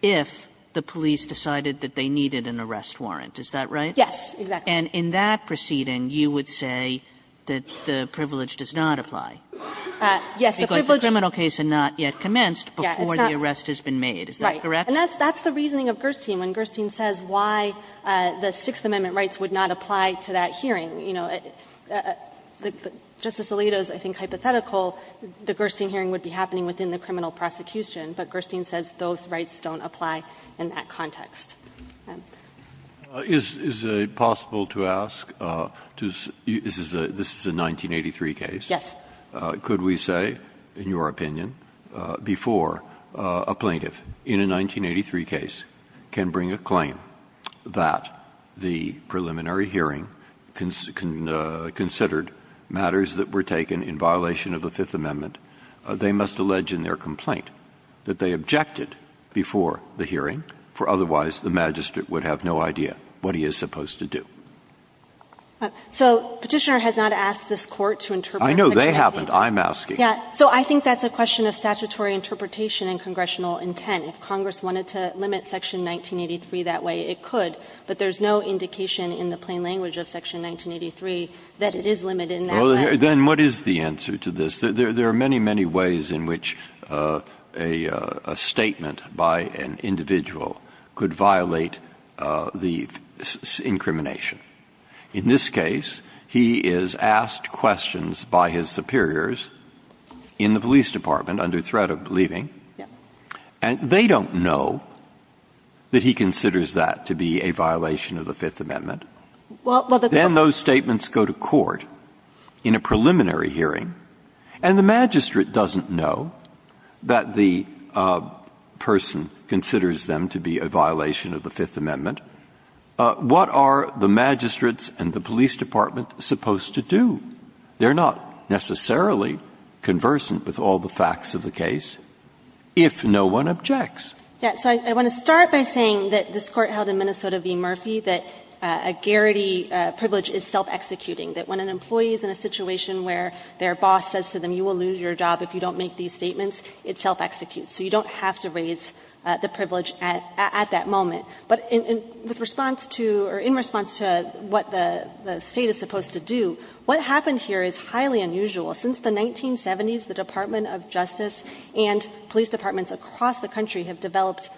if the police decided that they needed an arrest warrant, is that right? Yes, exactly. And in that proceeding, you would say that the privilege does not apply. Yes, the privilege – Because the criminal case had not yet commenced before the arrest has been made, is that correct? Right. And that's the reasoning of Gerstein, when Gerstein says why the Sixth Amendment rights would not apply to that hearing. You know, Justice Alito's, I think, hypothetical, the Gerstein hearing would be happening within the criminal prosecution, but Gerstein says those rights don't apply in that context. Is it possible to ask – this is a 1983 case. Yes. Could we say, in your opinion, before a plaintiff in a 1983 case can bring a claim that the preliminary hearing considered matters that were taken in violation of the Fifth Amendment, they must allege in their complaint that they objected before the hearing, for otherwise the magistrate would have no idea what he is supposed to do? So Petitioner has not asked this Court to interpret Section 183. I know. They haven't. I'm asking. Yes. So I think that's a question of statutory interpretation and congressional intent. If Congress wanted to limit Section 1983 that way, it could, but there's no indication in the plain language of Section 1983 that it is limited in that way. Breyer. Then what is the answer to this? There are many, many ways in which a statement by an individual could violate the incrimination. In this case, he is asked questions by his superiors in the police department under threat of leaving. Yes. And they don't know that he considers that to be a violation of the Fifth Amendment. Well, the Court Then those statements go to court in a preliminary hearing, and the magistrate doesn't know that the person considers them to be a violation of the Fifth Amendment. What are the magistrates and the police department supposed to do? They are not necessarily conversant with all the facts of the case. If no one objects. Yes. So I want to start by saying that this Court held in Minnesota v. Murphy that a Garrity privilege is self-executing, that when an employee is in a situation where their boss says to them, you will lose your job if you don't make these statements, it self-executes. So you don't have to raise the privilege at that moment. But in response to or in response to what the State is supposed to do, what happened here is highly unusual. Since the 1970s, the Department of Justice and police departments across the country have developed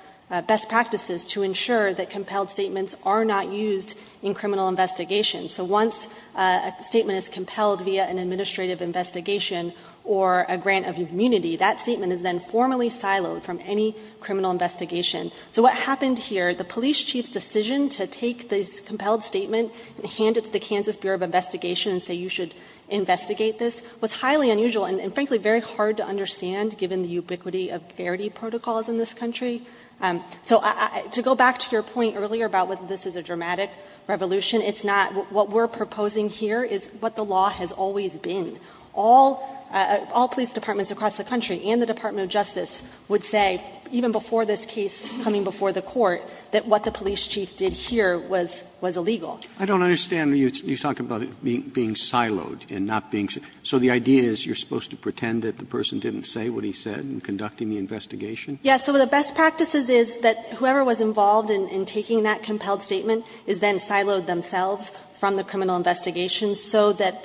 best practices to ensure that compelled statements are not used in criminal investigations. So once a statement is compelled via an administrative investigation or a grant of immunity, that statement is then formally siloed from any criminal investigation. So what happened here, the police chief's decision to take this compelled statement and hand it to the Kansas Bureau of Investigation and say you should investigate this, was highly unusual and, frankly, very hard to understand given the ubiquity of Garrity protocols in this country. So to go back to your point earlier about whether this is a dramatic revolution, it's not. What we're proposing here is what the law has always been. All police departments across the country and the Department of Justice would say, even before this case coming before the Court, that what the police chief did here was illegal. Roberts I don't understand when you talk about being siloed and not being so the idea is you're supposed to pretend that the person didn't say what he said in conducting the investigation? Saharsky Yes. So the best practices is that whoever was involved in taking that compelled statement is then siloed themselves from the criminal investigation so that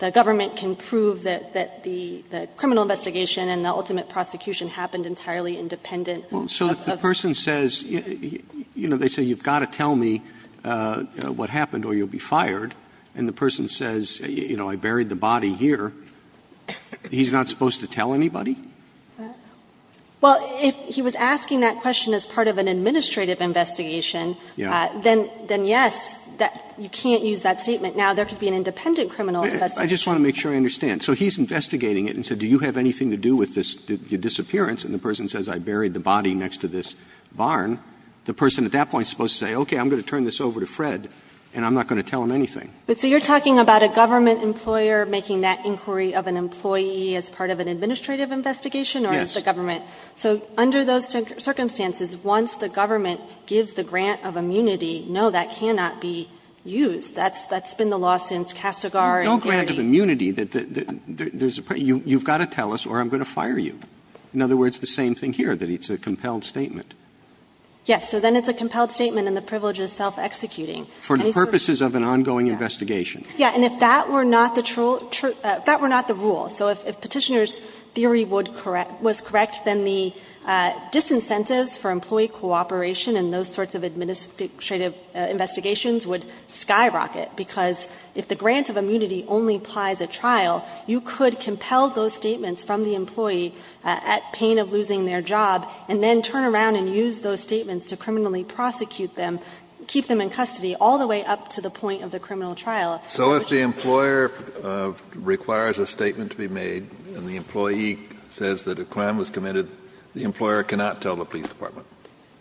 the government can prove that the criminal investigation and the ultimate prosecution happened entirely independent of the person. Roberts But if the person says, you know, they say you've got to tell me what happened or you'll be fired, and the person says, you know, I buried the body here, he's not supposed to tell anybody? Saharsky Well, if he was asking that question as part of an administrative investigation, then yes, you can't use that statement. Now, there could be an independent criminal investigation. Roberts I just want to make sure I understand. So he's investigating it and said do you have anything to do with this disappearance and the person says I buried the body next to this barn, the person at that point is supposed to say, okay, I'm going to turn this over to Fred and I'm not going to tell him anything. Saharsky So you're talking about a government employer making that inquiry of an employee as part of an administrative investigation or as the government? So under those circumstances, once the government gives the grant of immunity, no, that cannot be used. That's been the law since Castigar and Garity. Roberts No grant of immunity, you've got to tell us or I'm going to fire you. In other words, the same thing here, that it's a compelled statement. Saharsky Yes. So then it's a compelled statement and the privilege is self-executing. Roberts For the purposes of an ongoing investigation. Saharsky Yes. And if that were not the rule, so if Petitioner's theory was correct, then the disincentives for employee cooperation in those sorts of administrative investigations would skyrocket, because if the grant of immunity only applies at trial, you could compel those statements from the employee at pain of losing their job and then turn around and use those statements to criminally prosecute them, keep them in custody, all the way up to the point of the criminal trial. Kennedy So if the employer requires a statement to be made and the employee says that a crime was committed, the employer cannot tell the police department? Saharsky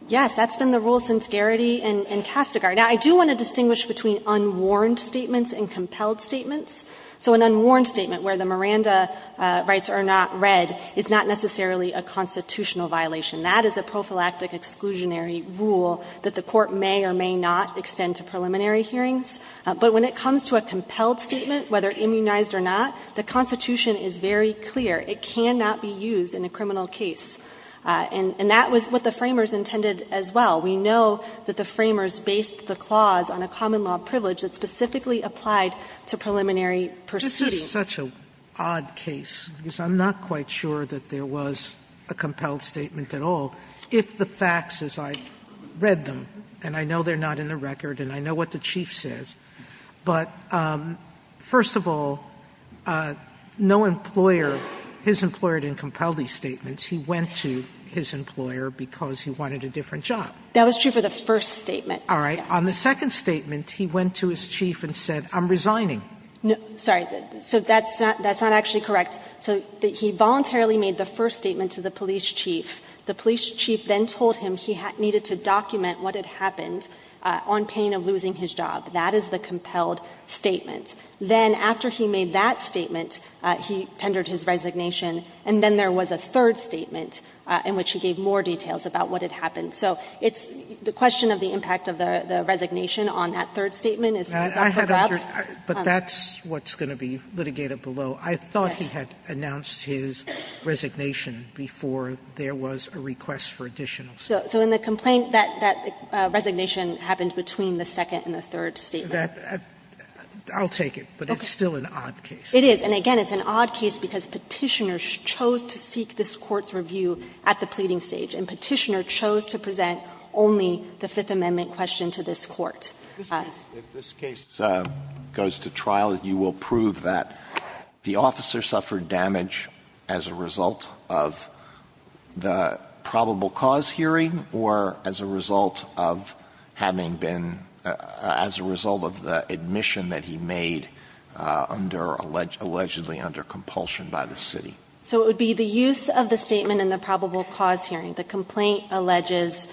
Yes, that's been the rule since Garity and Castigar. Now, I do want to distinguish between unwarned statements and compelled statements. So an unwarned statement where the Miranda rights are not read is not necessarily a constitutional violation. That is a prophylactic exclusionary rule that the Court may or may not extend to preliminary hearings. But when it comes to a compelled statement, whether immunized or not, the Constitution is very clear. It cannot be used in a criminal case. And that was what the framers intended as well. We know that the framers based the clause on a common law privilege that specifically applied to preliminary proceedings. Sotomayor This is such an odd case, because I'm not quite sure that there was a compelled statement at all. If the facts, as I read them, and I know they're not in the record and I know what the Chief says, but first of all, no employer, his employer didn't compel these statements. He went to his employer because he wanted a different job. Saharsky That was true for the first statement. Sotomayor All right. Sotomayor On the second statement, he went to his Chief and said, I'm resigning. Saharsky Sorry. So that's not actually correct. So he voluntarily made the first statement to the police chief. The police chief then told him he needed to document what had happened on pain of losing his job. That is the compelled statement. Then after he made that statement, he tendered his resignation, and then there was a third statement in which he gave more details about what had happened. So it's the question of the impact of the resignation on that third statement is not correct. Sotomayor But that's what's going to be litigated below. I thought he had announced his resignation before there was a request for additional statements. Saharsky So in the complaint, that resignation happened between the second and the third statement. Sotomayor I'll take it, but it's still an odd case. Saharsky It is. And again, it's an odd case because Petitioner chose to seek this Court's review at the pleading stage. And Petitioner chose to present only the Fifth Amendment question to this Court. Alito If this case goes to trial, you will prove that the officer suffered damage as a result of the probable cause hearing or as a result of having been as a result of the admission that he made under allegedly under compulsion by the city? Saharsky So it would be the use of the statement in the probable cause hearing. The complaint alleges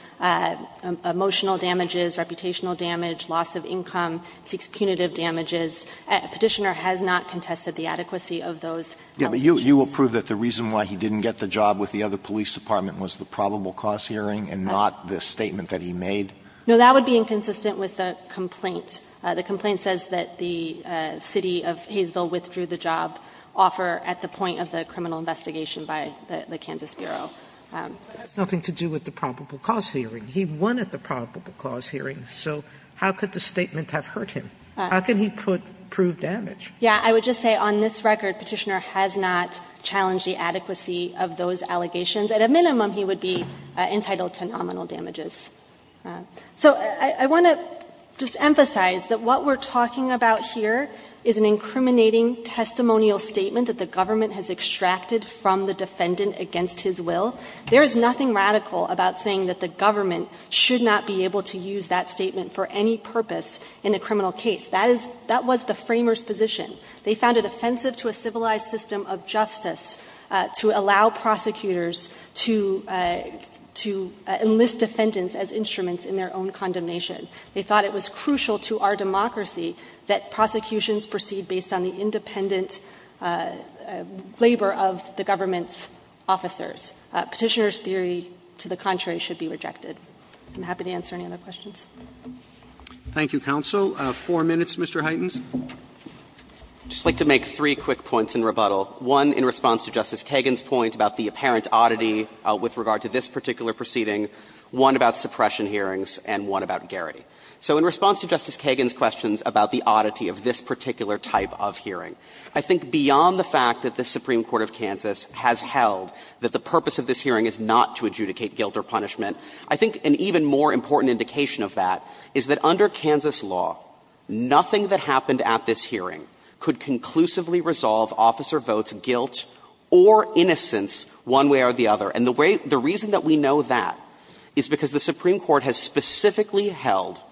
emotional damages, reputational damage, loss of income, seeks punitive damages. Petitioner has not contested the adequacy of those allegations. Alito But you will prove that the reason why he didn't get the job with the other police department was the probable cause hearing and not the statement that he made? Saharsky No, that would be inconsistent with the complaint. The complaint says that the city of Hayesville withdrew the job offer at the point of the criminal investigation by the Kansas Bureau. Sotomayor But that has nothing to do with the probable cause hearing. He won at the probable cause hearing, so how could the statement have hurt him? How can he prove damage? Saharsky Yeah, I would just say on this record, Petitioner has not challenged the adequacy of those allegations. At a minimum, he would be entitled to nominal damages. So I want to just emphasize that what we're talking about here is an incriminating testimonial statement that the government has extracted from the defendant against his will. There is nothing radical about saying that the government should not be able to use that statement for any purpose in a criminal case. That is the framers' position. They found it offensive to a civilized system of justice to allow prosecutors to enlist defendants as instruments in their own condemnation. They thought it was crucial to our democracy that prosecutions proceed based on the Petitioner's theory, to the contrary, should be rejected. I'm happy to answer any other questions. Roberts Thank you, counsel. Four minutes, Mr. Huytens. Huytens I'd just like to make three quick points in rebuttal. One, in response to Justice Kagan's point about the apparent oddity with regard to this particular proceeding, one about suppression hearings, and one about Garrity. So in response to Justice Kagan's questions about the oddity of this particular type of hearing, I think beyond the fact that the Supreme Court of Kansas has held that the purpose of this hearing is not to adjudicate guilt or punishment, I think an even more important indication of that is that under Kansas law, nothing that happened at this hearing could conclusively resolve officer votes, guilt, or innocence one way or the other. And the way — the reason that we know that is because the Supreme Court has specifically held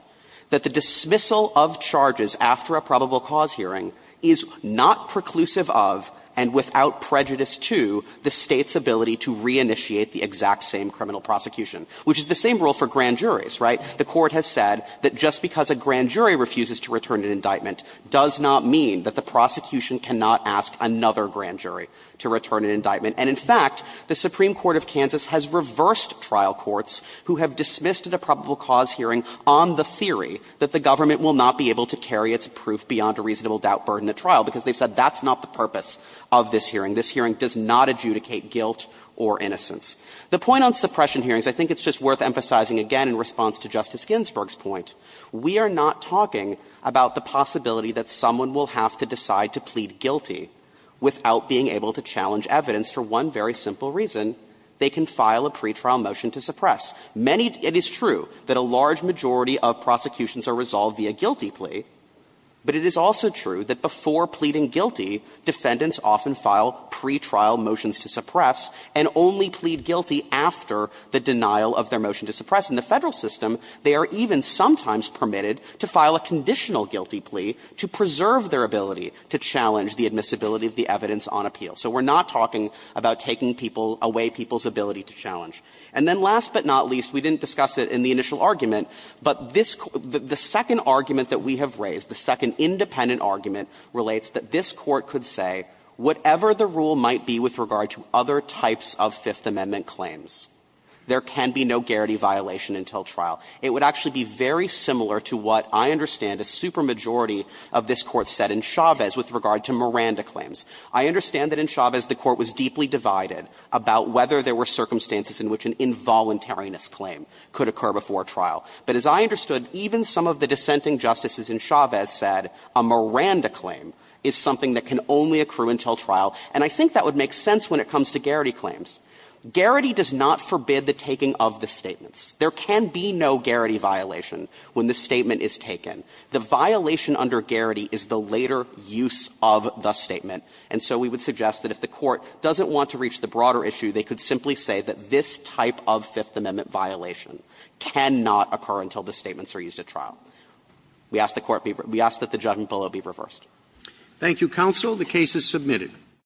that the dismissal of charges after a probable cause hearing is not preclusive of, and without prejudice to, the State's ability to reinitiate the exact same criminal prosecution, which is the same rule for grand juries, right? The Court has said that just because a grand jury refuses to return an indictment does not mean that the prosecution cannot ask another grand jury to return an indictment. And in fact, the Supreme Court of Kansas has reversed trial courts who have dismissed at a probable cause hearing on the theory that the government will not be able to carry its proof beyond a reasonable doubt burden at trial, because they've said that's not the purpose of this hearing. This hearing does not adjudicate guilt or innocence. The point on suppression hearings, I think it's just worth emphasizing again in response to Justice Ginsburg's point. We are not talking about the possibility that someone will have to decide to plead guilty without being able to challenge evidence for one very simple reason, they can file a pretrial motion to suppress. Many — it is true that a large majority of prosecutions are resolved via guilty plea, but it is also true that before pleading guilty, defendants often file pretrial motions to suppress and only plead guilty after the denial of their motion to suppress. In the Federal system, they are even sometimes permitted to file a conditional guilty plea to preserve their ability to challenge the admissibility of the evidence on appeal. So we're not talking about taking people — away people's ability to challenge. And then last but not least, we didn't discuss it in the initial argument, but this — the second argument that we have raised, the second independent argument relates that this Court could say whatever the rule might be with regard to other types of Fifth Amendment claims, there can be no garrity violation until trial. It would actually be very similar to what I understand a supermajority of this Court said in Chavez with regard to Miranda claims. I understand that in Chavez, the Court was deeply divided about whether there were circumstances in which an involuntariness claim could occur before trial. But as I understood, even some of the dissenting justices in Chavez said a Miranda claim is something that can only accrue until trial, and I think that would make sense when it comes to garrity claims. Garrity does not forbid the taking of the statements. There can be no garrity violation when the statement is taken. The violation under garrity is the later use of the statement. And so we would suggest that if the Court doesn't want to reach the broader issue, they could simply say that this type of Fifth Amendment violation cannot occur until the statements are used at trial. We ask the Court be – we ask that the judgment below be reversed. Thank you, counsel. The case is submitted.